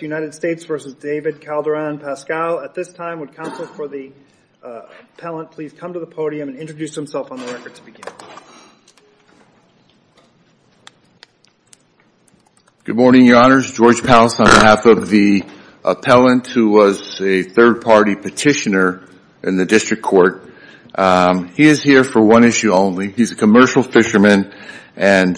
United States v. David Calderin-Pascual. At this time, would counsel for the appellant please come to the podium and introduce himself on the record to begin. Good morning, your honors. George Pals on behalf of the appellant who was a third-party petitioner in the district court. He is here for one issue only. He's a commercial fisherman and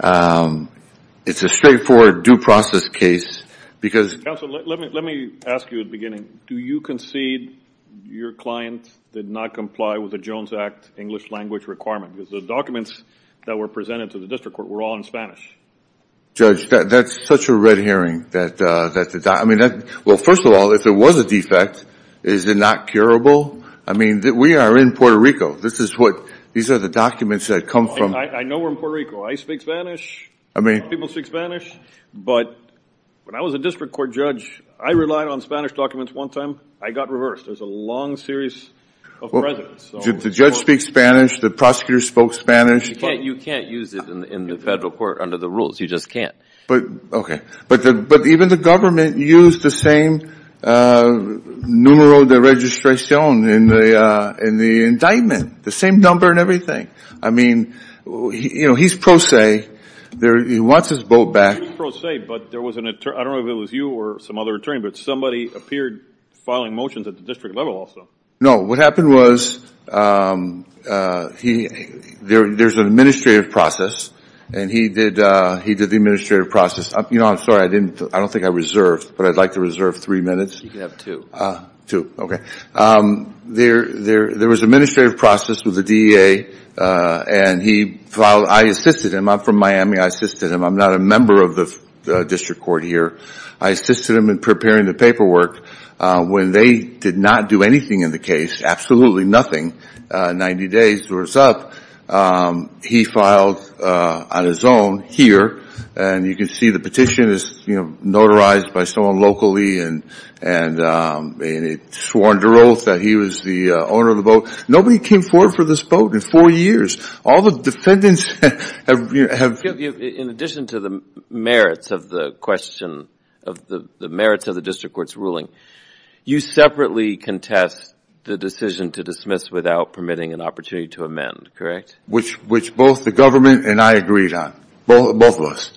it's a straightforward due process case. Counsel, let me ask you at the beginning. Do you concede your client did not comply with the Jones Act English language requirement? Because the documents that were presented to the district court were all in Spanish. Judge, that's such a red herring. Well, first of all, if there was a defect, is it not curable? I mean, we are in Puerto Rico. These are the documents that come from... I know we're in Puerto Rico. I speak Spanish. People speak Spanish, but when I was a district court judge, I relied on Spanish documents one time. I got reversed. There's a long series of precedents. The judge speaks Spanish. The prosecutor spoke Spanish. You can't use it in the federal court under the rules. You just can't. Okay. But even the government used the same numero de registración in the district court. He wants his vote back. I don't know if it was you or some other attorney, but somebody appeared filing motions at the district level also. No. What happened was there's an administrative process and he did the administrative process. You know, I'm sorry. I don't think I reserved, but I'd like to reserve three minutes. You can have two. Two. Okay. There was an administrative process with the DEA and I assisted him. I'm from Miami. I took care of the administration. I assisted him. I'm not a member of the district court here. I assisted him in preparing the paperwork. When they did not do anything in the case, absolutely nothing, 90 days or so, he filed on his own here and you can see the petition is, you know, notarized by someone locally and it's sworn to oath that he was the owner of the vote. Nobody came forward for this vote in four years. All the defendants have... In addition to the merits of the question, the merits of the district court's ruling, you separately contest the decision to dismiss without permitting an opportunity to amend, correct? Which both the government and I agreed on, both of us.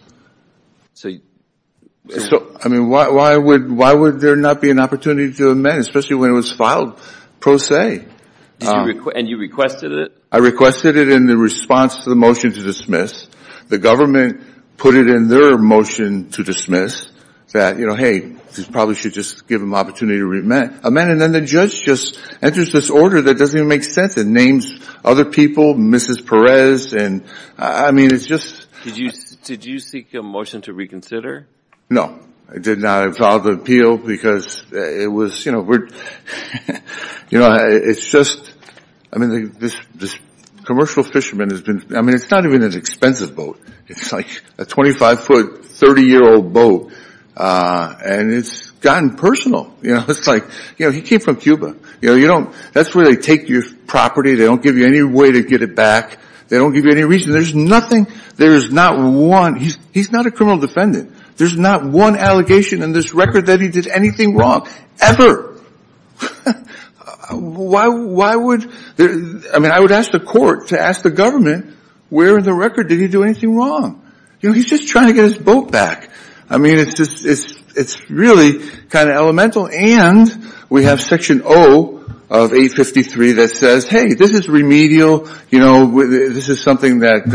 So, I mean, why would there not be an opportunity to amend, especially when it was filed pro se? And you requested it? I requested it in the response to the motion to dismiss. The government put it in their motion to dismiss that, you know, hey, this probably should just give them an opportunity to amend. And then the judge just enters this order that doesn't even make sense and names other people, Mrs. Perez and, I mean, it's just... Did you seek a motion to reconsider? No, I did not. I filed an appeal because it was, you know, we're, you know, it's just... I mean, this commercial fisherman has been... I mean, it's not even an expensive boat. It's like a 25-foot, 30-year-old boat. And it's gotten personal. You know, it's like, you know, he came from Cuba. You know, you don't... That's where they take your property. They don't give you any way to get it back. They don't give you any reason. There's nothing... There is not one... He's not a criminal defendant. There's not one allegation in this record that he did anything wrong, ever. Why would... I mean, I would ask the court to ask the government, where in the record did he do anything wrong? You know, he's just trying to get his boat back. I mean, it's just... It's really kind of elemental. And we have Section O of 853 that says, hey, this is remedial. You know, this is something that,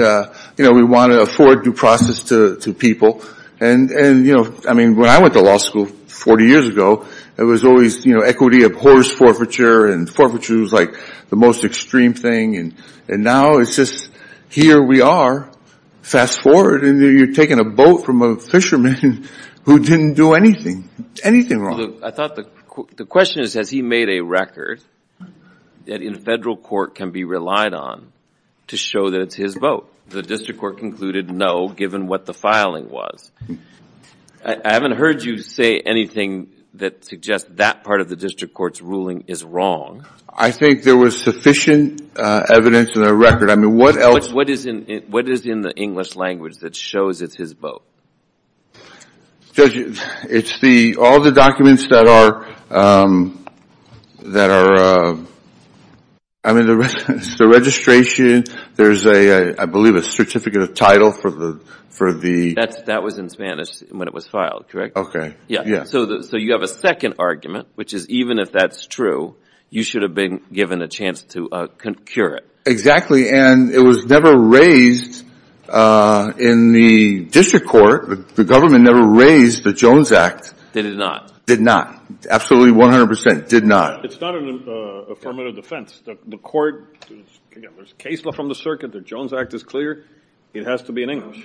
you know, we want to afford due process to people. And, you know, I mean, when I went to law school 40 years ago, it was always, you know, equity of horse forfeiture, and forfeiture was like the most extreme thing. And now it's just, here we are. Fast forward, and you're taking a boat from a fisherman who didn't do anything, anything wrong. I thought the question is, has he made a record that in federal court can be relied on to show that it's his boat? The district court concluded, no, given what the filing was. I haven't heard you say anything that suggests that part of the district court's ruling is wrong. I think there was sufficient evidence in the record. I mean, what else... What is in the English language that shows it's his boat? Judge, it's the... All the documents that are... I mean, the registration, there's a, I believe, a certificate of title for the... That was in Spanish when it was filed, correct? Okay. Yeah. So you have a second argument, which is even if that's true, you should have been given a chance to concur it. Exactly. And it was never raised in the district court. The government never raised the Jones Act. Did it not? Did not. Absolutely 100 percent. Did not. It's not an affirmative defense. The court... Again, there's case law from the circuit. The Jones Act is clear. It has to be in English.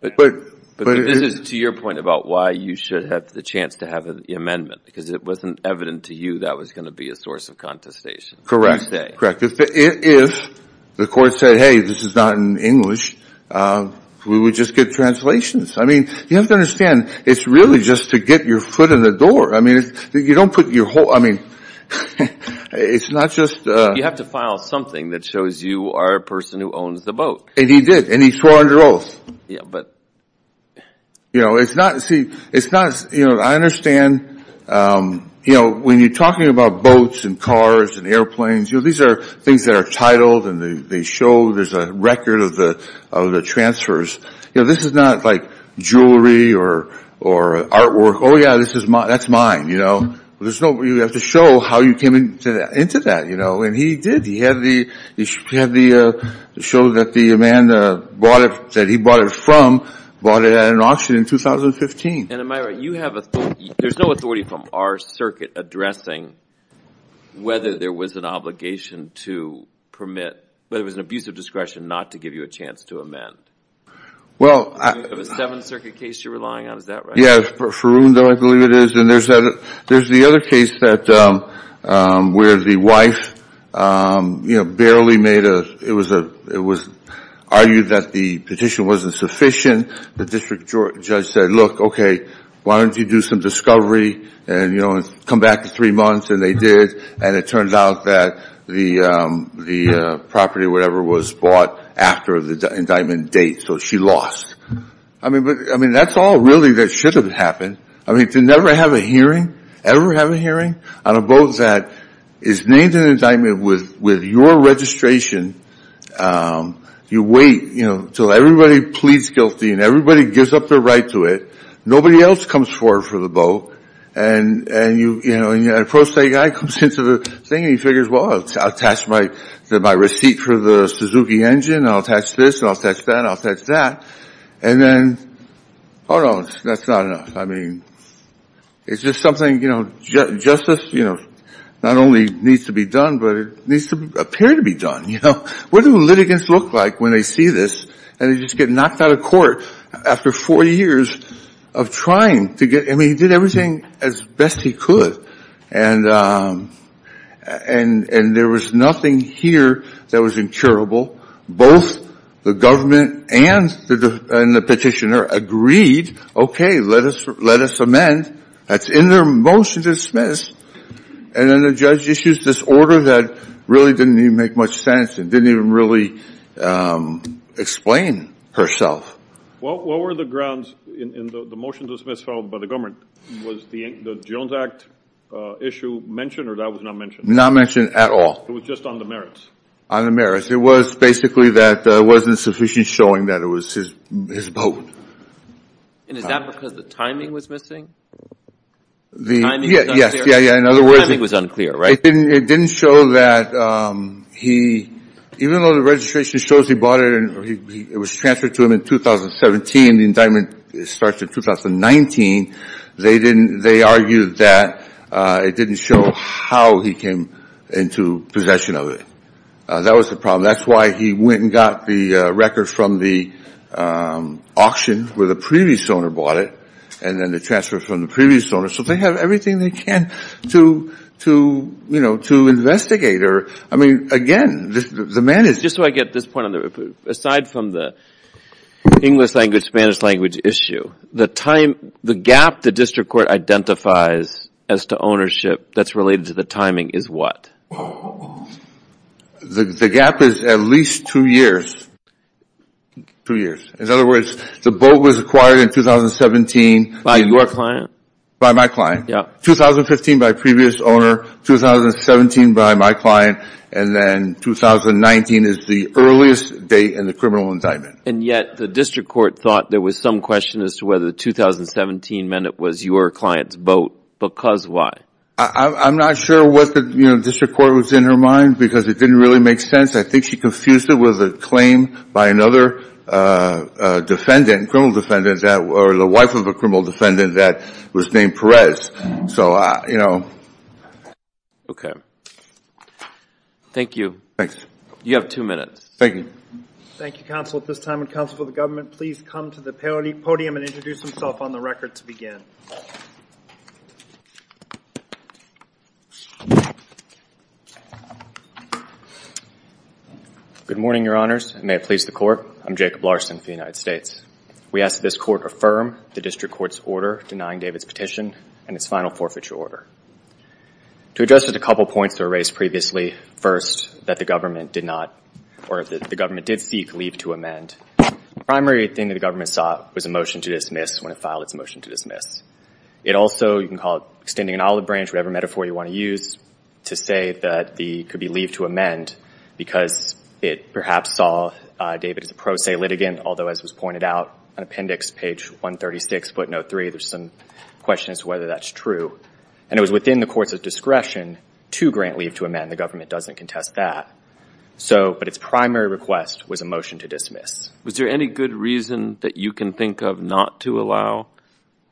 But this is to your point about why you should have the chance to have the amendment. Because it wasn't evident to you that was going to be a source of contestation. Correct. Correct. If the court said, hey, this is not in English, we would just get translations. I mean, you have to understand, it's really just to get your foot in the door. I mean, you don't put your whole... I mean, it's not just... You have to file something that shows you are a person who owns the boat. And he did. And he swore under oath. You know, it's not... See, it's not... You know, I understand, you know, when you're talking about boats and cars and airplanes, you know, these are things that are titled and they show there's a record of the transfers. You know, this is not like jewelry or artwork. Oh, yeah, that's mine. You know, there's no... You have to show how you came into that, you know. And he did. He had the... He showed that the man that he bought it from bought it at an auction in 2015. And am I right, you have authority... There's no authority from our circuit addressing whether there was an obligation to permit... Whether it was an abuse of discretion not to give you a chance to amend? Well... The Seventh Circuit case you're relying on, is that right? Yeah, Faroon, I believe it is. And there's the other case where the wife, you know, barely made a... It was argued that the petition wasn't sufficient. The district judge said, look, okay, why don't you do some discovery and, you know, come back in three months. And they did. And it turned out that the property or whatever was bought after the indictment date. So she lost. I mean, that's all really that should have happened. I mean, to never have a hearing, ever have a hearing on a boat that is named an indictment with your registration, you wait, you know, till everybody pleads guilty and everybody gives up their right to it. Nobody else comes forward for the boat. And a pro-state guy comes into the thing and he figures, well, I'll attach my receipt for the Suzuki engine. I'll attach this. I'll attach that. I'll attach that. And then, oh no, that's not enough. I mean, it's just something, you know, justice, you know, not only needs to be done, but it needs to appear to be done, you know. What do litigants look like when they see this and they just get knocked out of court after four years of trying to get, I mean, he did everything as best he could. And there was nothing here that was incurable. Both the government and the petitioner agreed, okay, let us amend. That's in their motion to dismiss. And then the judge issues this order that really didn't even make much sense and didn't even really explain herself. What were the grounds in the motion to dismiss filed by the government? Was the Jones Act issue mentioned or that was not mentioned? Not mentioned at all. It was just on the merits. On the merits. It was basically that there wasn't sufficient showing that it was his vote. And is that because the timing was missing? Yes, in other words, it didn't show that he, even though the registration shows he bought it and it was transferred to him in 2017, the indictment starts in 2019, they argued that it didn't show how he came into possession of it. That was the problem. That's why he went and got the record from the auction where the previous owner bought it and then the transfer from the previous owner so they have everything they can to, you know, to investigate. I mean, again, the man is. Just so I get this point, aside from the English language, Spanish language issue, the gap the district court identifies as to ownership that's related to the timing is what? The gap is at least two years. In other words, the boat was acquired in 2017. By your client? By my client. 2015 by previous owner, 2017 by my client, and then 2019 is the earliest date in the criminal indictment. And yet the district court thought there was some question as to whether 2017 meant it was your client's boat. Because why? I'm not sure what the district court was in her mind because it didn't really make sense. I think she confused it with a claim by another defendant, criminal defendant, or the wife of a criminal defendant that was named Perez. Okay. Thank you. You have two minutes. Thank you. Good morning, Your Honors, and may it please the Court, I'm Jacob Larson for the United States. We ask that this Court affirm the district court's order denying David's petition and its final forfeiture order. To address just a couple points that were raised previously, first, that the government did not or that the government did seek leave to amend, the primary thing that the government sought was a motion to dismiss when it filed its motion to dismiss. It also, you can call it extending an olive branch, whatever metaphor you want to use to say that the could be leave to amend because it perhaps saw David as a pro se litigant, although as was pointed out on appendix page 136, footnote three, there's some questions whether that's true. And it was within the court's discretion to grant leave to amend. The government doesn't contest that. But its primary request was a motion to dismiss. Was there any good reason that you can think of not to allow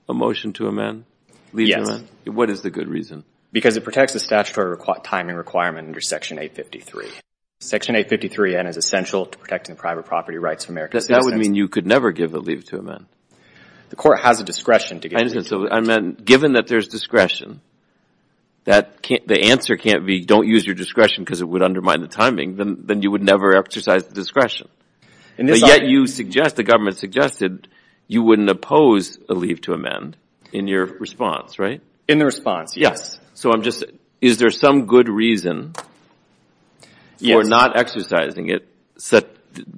a motion to amend? Leave to amend? What is the good reason? Because it protects the statutory timing requirement under section 853. Section 853N is essential to protecting the private property rights of American citizens. That would mean you could never give a leave to amend. The court has a discretion to give leave to amend. Given that there's discretion, the answer can't be don't use your discretion because it would undermine the timing. Then you would never exercise the discretion. Yet the government suggested you wouldn't oppose a leave to amend in your response, right? In the response, yes. So I'm just, is there some good reason for not exercising it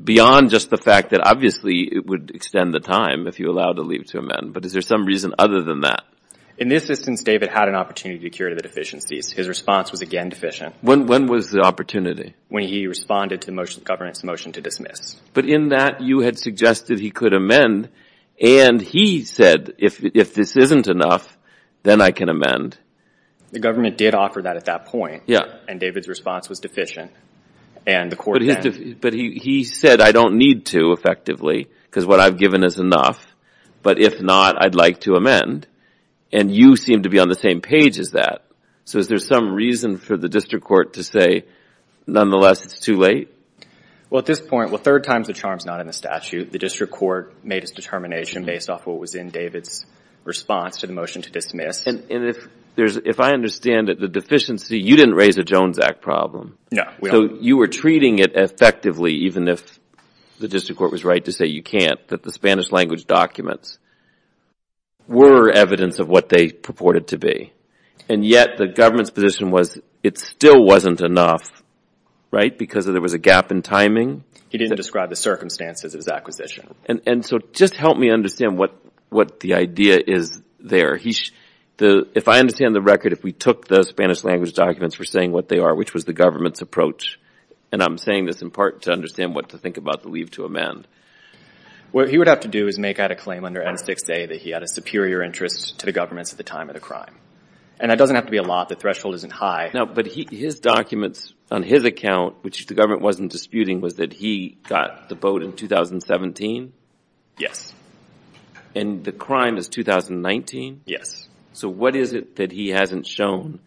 beyond just the fact that obviously it would extend the time if you allowed a leave to amend? But is there some reason other than that? In this instance, David had an opportunity to cure the deficiencies. His response was again deficient. When was the opportunity? When he responded to the government's motion to dismiss. But in that, you had suggested he could amend, and he said if this isn't enough, then I can amend. The government did offer that at that point, and David's response was deficient. But he said I don't need to effectively because what I've given is enough, but if not, I'd like to amend. And you seem to be on the same page as that. So is there some reason for the district court to say, nonetheless, it's too late? Well, at this point, third time's the charm is not in the statute. The district court made its determination based off what was in David's response to the motion to dismiss. And if I understand it, the deficiency, you didn't raise a Jones Act problem. So you were treating it effectively, even if the district court was right to say you can't, that the Spanish language documents were evidence of what they purported to be. And yet the government's position was it still wasn't enough, right, because there was a gap in timing. He didn't describe the circumstances of his acquisition. And so just help me understand what the idea is there. If I understand the record, if we took the Spanish language documents for saying what they are, which was the government's approach, and I'm saying this in part to understand what to think about the leave to amend. What he would have to do is make out a claim under N6A that he had a superior interest to the government at the time of the crime. And that doesn't have to be a lot. The threshold isn't high. But his documents on his account, which the government wasn't disputing, was that he got the vote in 2017? Yes. And the crime is 2019? Yes. So what is it that he hasn't shown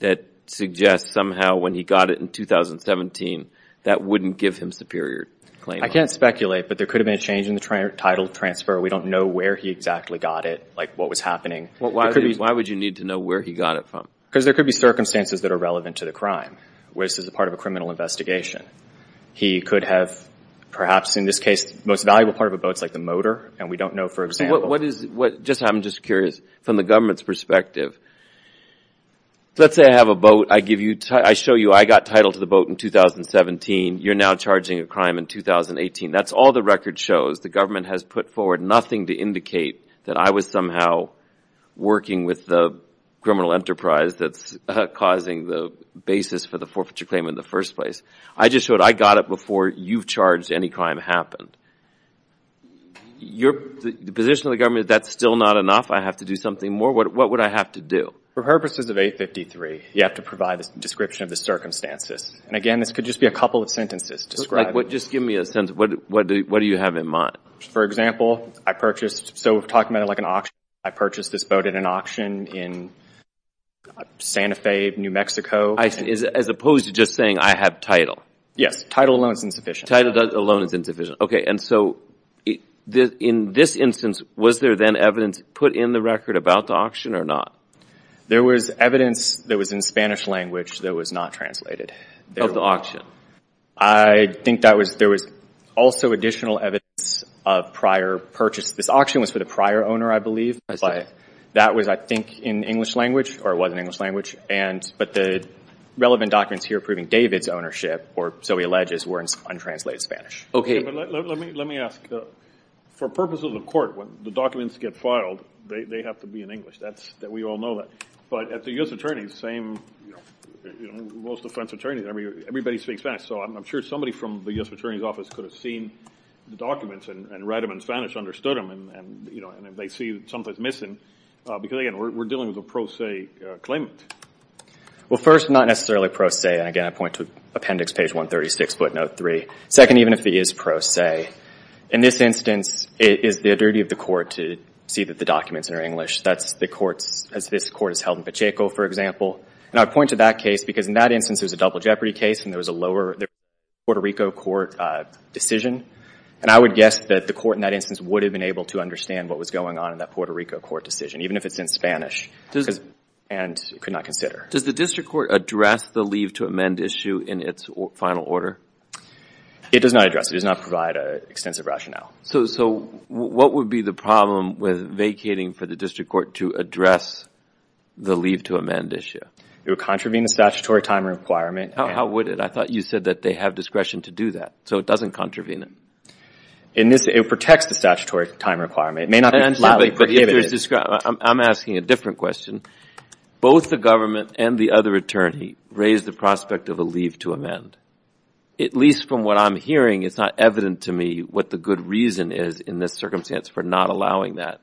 that suggests somehow when he got it in 2017 that wouldn't give him superior claim? I can't speculate, but there could have been a change in the title transfer. We don't know where he exactly got it, like what was happening. Why would you need to know where he got it from? Because there could be circumstances that are relevant to the crime, where this is a part of a criminal investigation. He could have perhaps, in this case, the most valuable part of a vote is like the motor, and we don't know, for example. I'm just curious, from the government's perspective, let's say I have a vote. I show you I got title to the vote in 2017. You're now charging a crime in 2018. That's all the record shows. The government has put forward nothing to indicate that I was somehow working with the criminal enterprise that's causing the basis for the forfeiture claim in the first place. I just showed I got it before you've charged any crime happened. The position of the government, that's still not enough? I have to do something more? What would I have to do? For purposes of 853, you have to provide a description of the circumstances. And again, this could just be a couple of sentences. Just give me a sense. What do you have in mind? For example, I purchased, so we're talking about like an auction. I purchased this vote at an auction in Santa Fe, New Mexico. As opposed to just saying I have title. Yes, title alone is insufficient. Title alone is insufficient. Okay, and so in this instance, was there then evidence put in the record about the auction or not? There was evidence that was in Spanish language that was not translated. Of the auction? I think there was also additional evidence of prior purchase. This auction was for the prior owner, I believe. That was, I think, in English language, or it was in English language. But the relevant documents here proving David's ownership, or so he alleges, were in untranslated Spanish. Let me ask. For purposes of court, when the documents get filed, they have to be in English. We all know that. But at the U.S. Attorney's, most defense attorneys, everybody speaks Spanish. So I'm sure somebody from the U.S. Attorney's Office could have seen the documents and read them in Spanish, understood them, and they see something's missing. Because, again, we're dealing with a pro se claimant. Well, first, not necessarily pro se. And, again, I point to Appendix Page 136, Footnote 3. Second, even if it is pro se. In this instance, it is the duty of the court to see that the documents are in English. That's the courts, as this court has held in Pacheco, for example. And I point to that case because in that instance, there's a double jeopardy case and there was a lower Puerto Rico court decision. And I would guess that the court in that instance would have been able to understand what was going on in that Puerto Rico court decision, even if it's in Spanish, and could not consider. Does the district court address the leave to amend issue in its final order? It does not address it. It does not provide extensive rationale. So what would be the problem with vacating for the district court to address the leave to amend issue? It would contravene the statutory time requirement. How would it? I thought you said that they have discretion to do that, so it doesn't contravene it. It protects the statutory time requirement. It may not be flatly prohibited. I'm asking a different question. Both the government and the other attorney raise the prospect of a leave to amend. At least from what I'm hearing, it's not evident to me what the good reason is in this circumstance for not allowing that.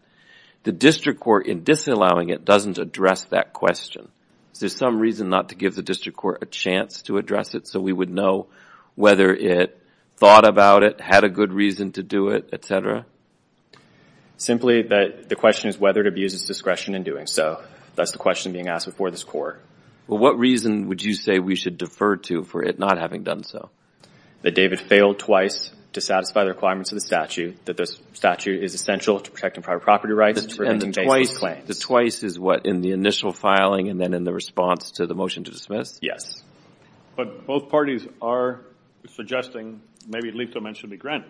The district court, in disallowing it, doesn't address that question. Is there some reason not to give the district court a chance to address it so we would know whether it thought about it, had a good reason to do it, et cetera? Simply that the question is whether it abuses discretion in doing so. That's the question being asked before this court. Well, what reason would you say we should defer to for it not having done so? That David failed twice to satisfy the requirements of the statute, that the statute is essential to protecting private property rights for making baseless claims. The twice is what, in the initial filing and then in the response to the motion to dismiss? Yes. But both parties are suggesting maybe leave to amend should be granted.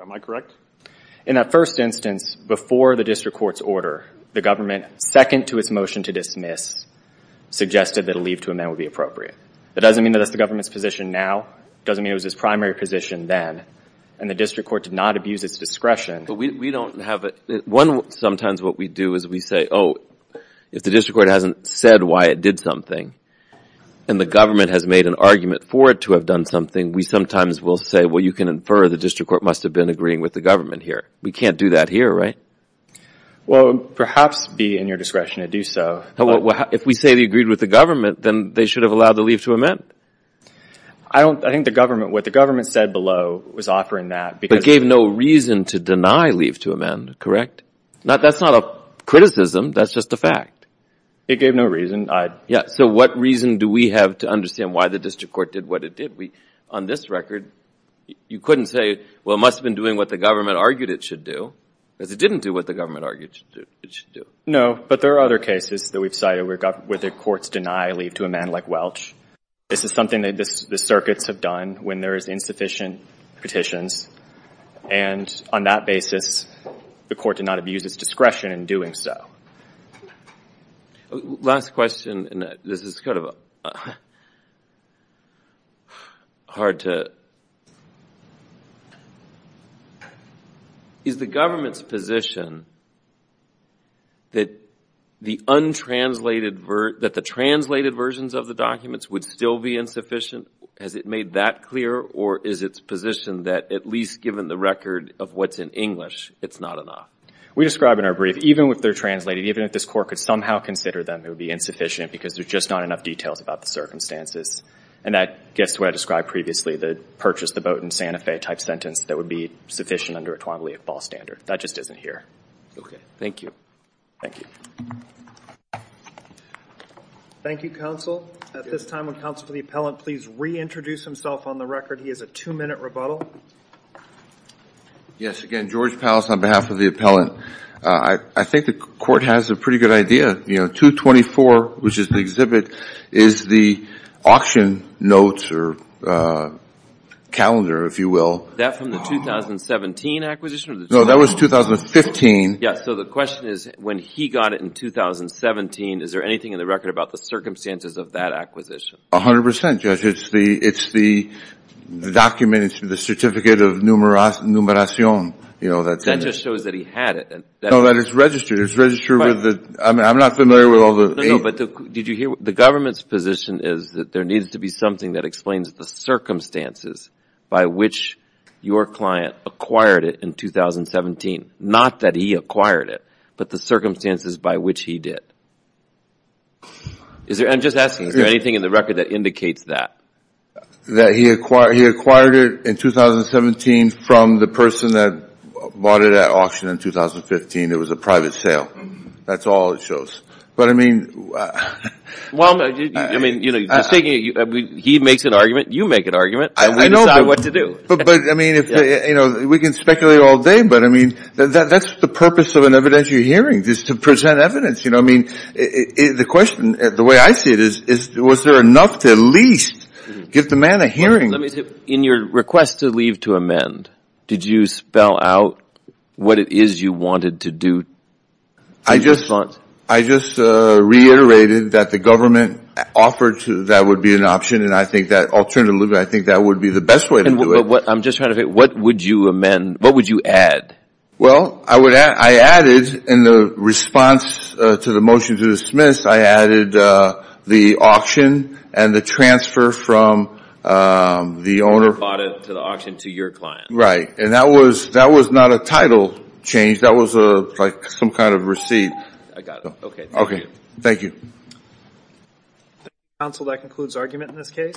Am I correct? In that first instance, before the district court's order, the government, second to its motion to dismiss, suggested that a leave to amend would be appropriate. That doesn't mean that that's the government's position now. It doesn't mean it was its primary position then. And the district court did not abuse its discretion. But we don't have a – one, sometimes what we do is we say, oh, if the district court hasn't said why it did something and the government has made an argument for it to have done something, we sometimes will say, well, you can infer the district court must have been agreeing with the government here. We can't do that here, right? Well, perhaps be in your discretion to do so. Well, if we say they agreed with the government, then they should have allowed the leave to amend. I don't – I think the government – what the government said below was offering that because – But gave no reason to deny leave to amend, correct? That's not a criticism. That's just a fact. It gave no reason. Yeah. So what reason do we have to understand why the district court did what it did? On this record, you couldn't say, well, it must have been doing what the government argued it should do. Because it didn't do what the government argued it should do. No, but there are other cases that we've cited where the courts deny leave to amend, like Welch. This is something that the circuits have done when there is insufficient petitions. And on that basis, the court did not abuse its discretion in doing so. Last question, and this is kind of hard to – is the government's position that the untranslated – that the translated versions of the documents would still be insufficient? Has it made that clear? Or is its position that at least given the record of what's in English, it's not enough? We describe in our brief, even if they're translated, even if this court could somehow consider them, it would be insufficient because there's just not enough details about the circumstances. And that gets to what I described previously, the purchase the boat in Santa Fe type sentence that would be sufficient under a 12-leaf ball standard. That just isn't here. Okay, thank you. Thank you. Thank you, counsel. At this time, would counsel for the appellant please reintroduce himself on the record? He has a two-minute rebuttal. Yes, again, George Powles on behalf of the appellant. I think the court has a pretty good idea. 224, which is the exhibit, is the auction notes or calendar, if you will. That from the 2017 acquisition? No, that was 2015. Yes, so the question is when he got it in 2017, is there anything in the record about the circumstances of that acquisition? A hundred percent, Judge. It's the document, it's the certificate of numeration. That just shows that he had it. No, that it's registered. I'm not familiar with all the – No, no, but did you hear the government's position is that there needs to be something that explains the circumstances by which your client acquired it in 2017. Not that he acquired it, but the circumstances by which he did. I'm just asking, is there anything in the record that indicates that? That he acquired it in 2017 from the person that bought it at auction in 2015. It was a private sale. That's all it shows. But, I mean – Well, I mean, he makes an argument, you make an argument, and we decide what to do. But, I mean, we can speculate all day, but, I mean, that's the purpose of an evidentiary hearing is to present evidence. You know, I mean, the question, the way I see it, is was there enough to at least give the man a hearing? In your request to leave to amend, did you spell out what it is you wanted to do in response? I just reiterated that the government offered that would be an option, and I think that alternatively, I think that would be the best way to do it. I'm just trying to figure, what would you amend, what would you add? Well, I added in the response to the motion to dismiss, I added the auction and the transfer from the owner – Right, and that was not a title change. That was like some kind of receipt. I got it. Okay, thank you. Okay, thank you. Counsel, that concludes argument in this case.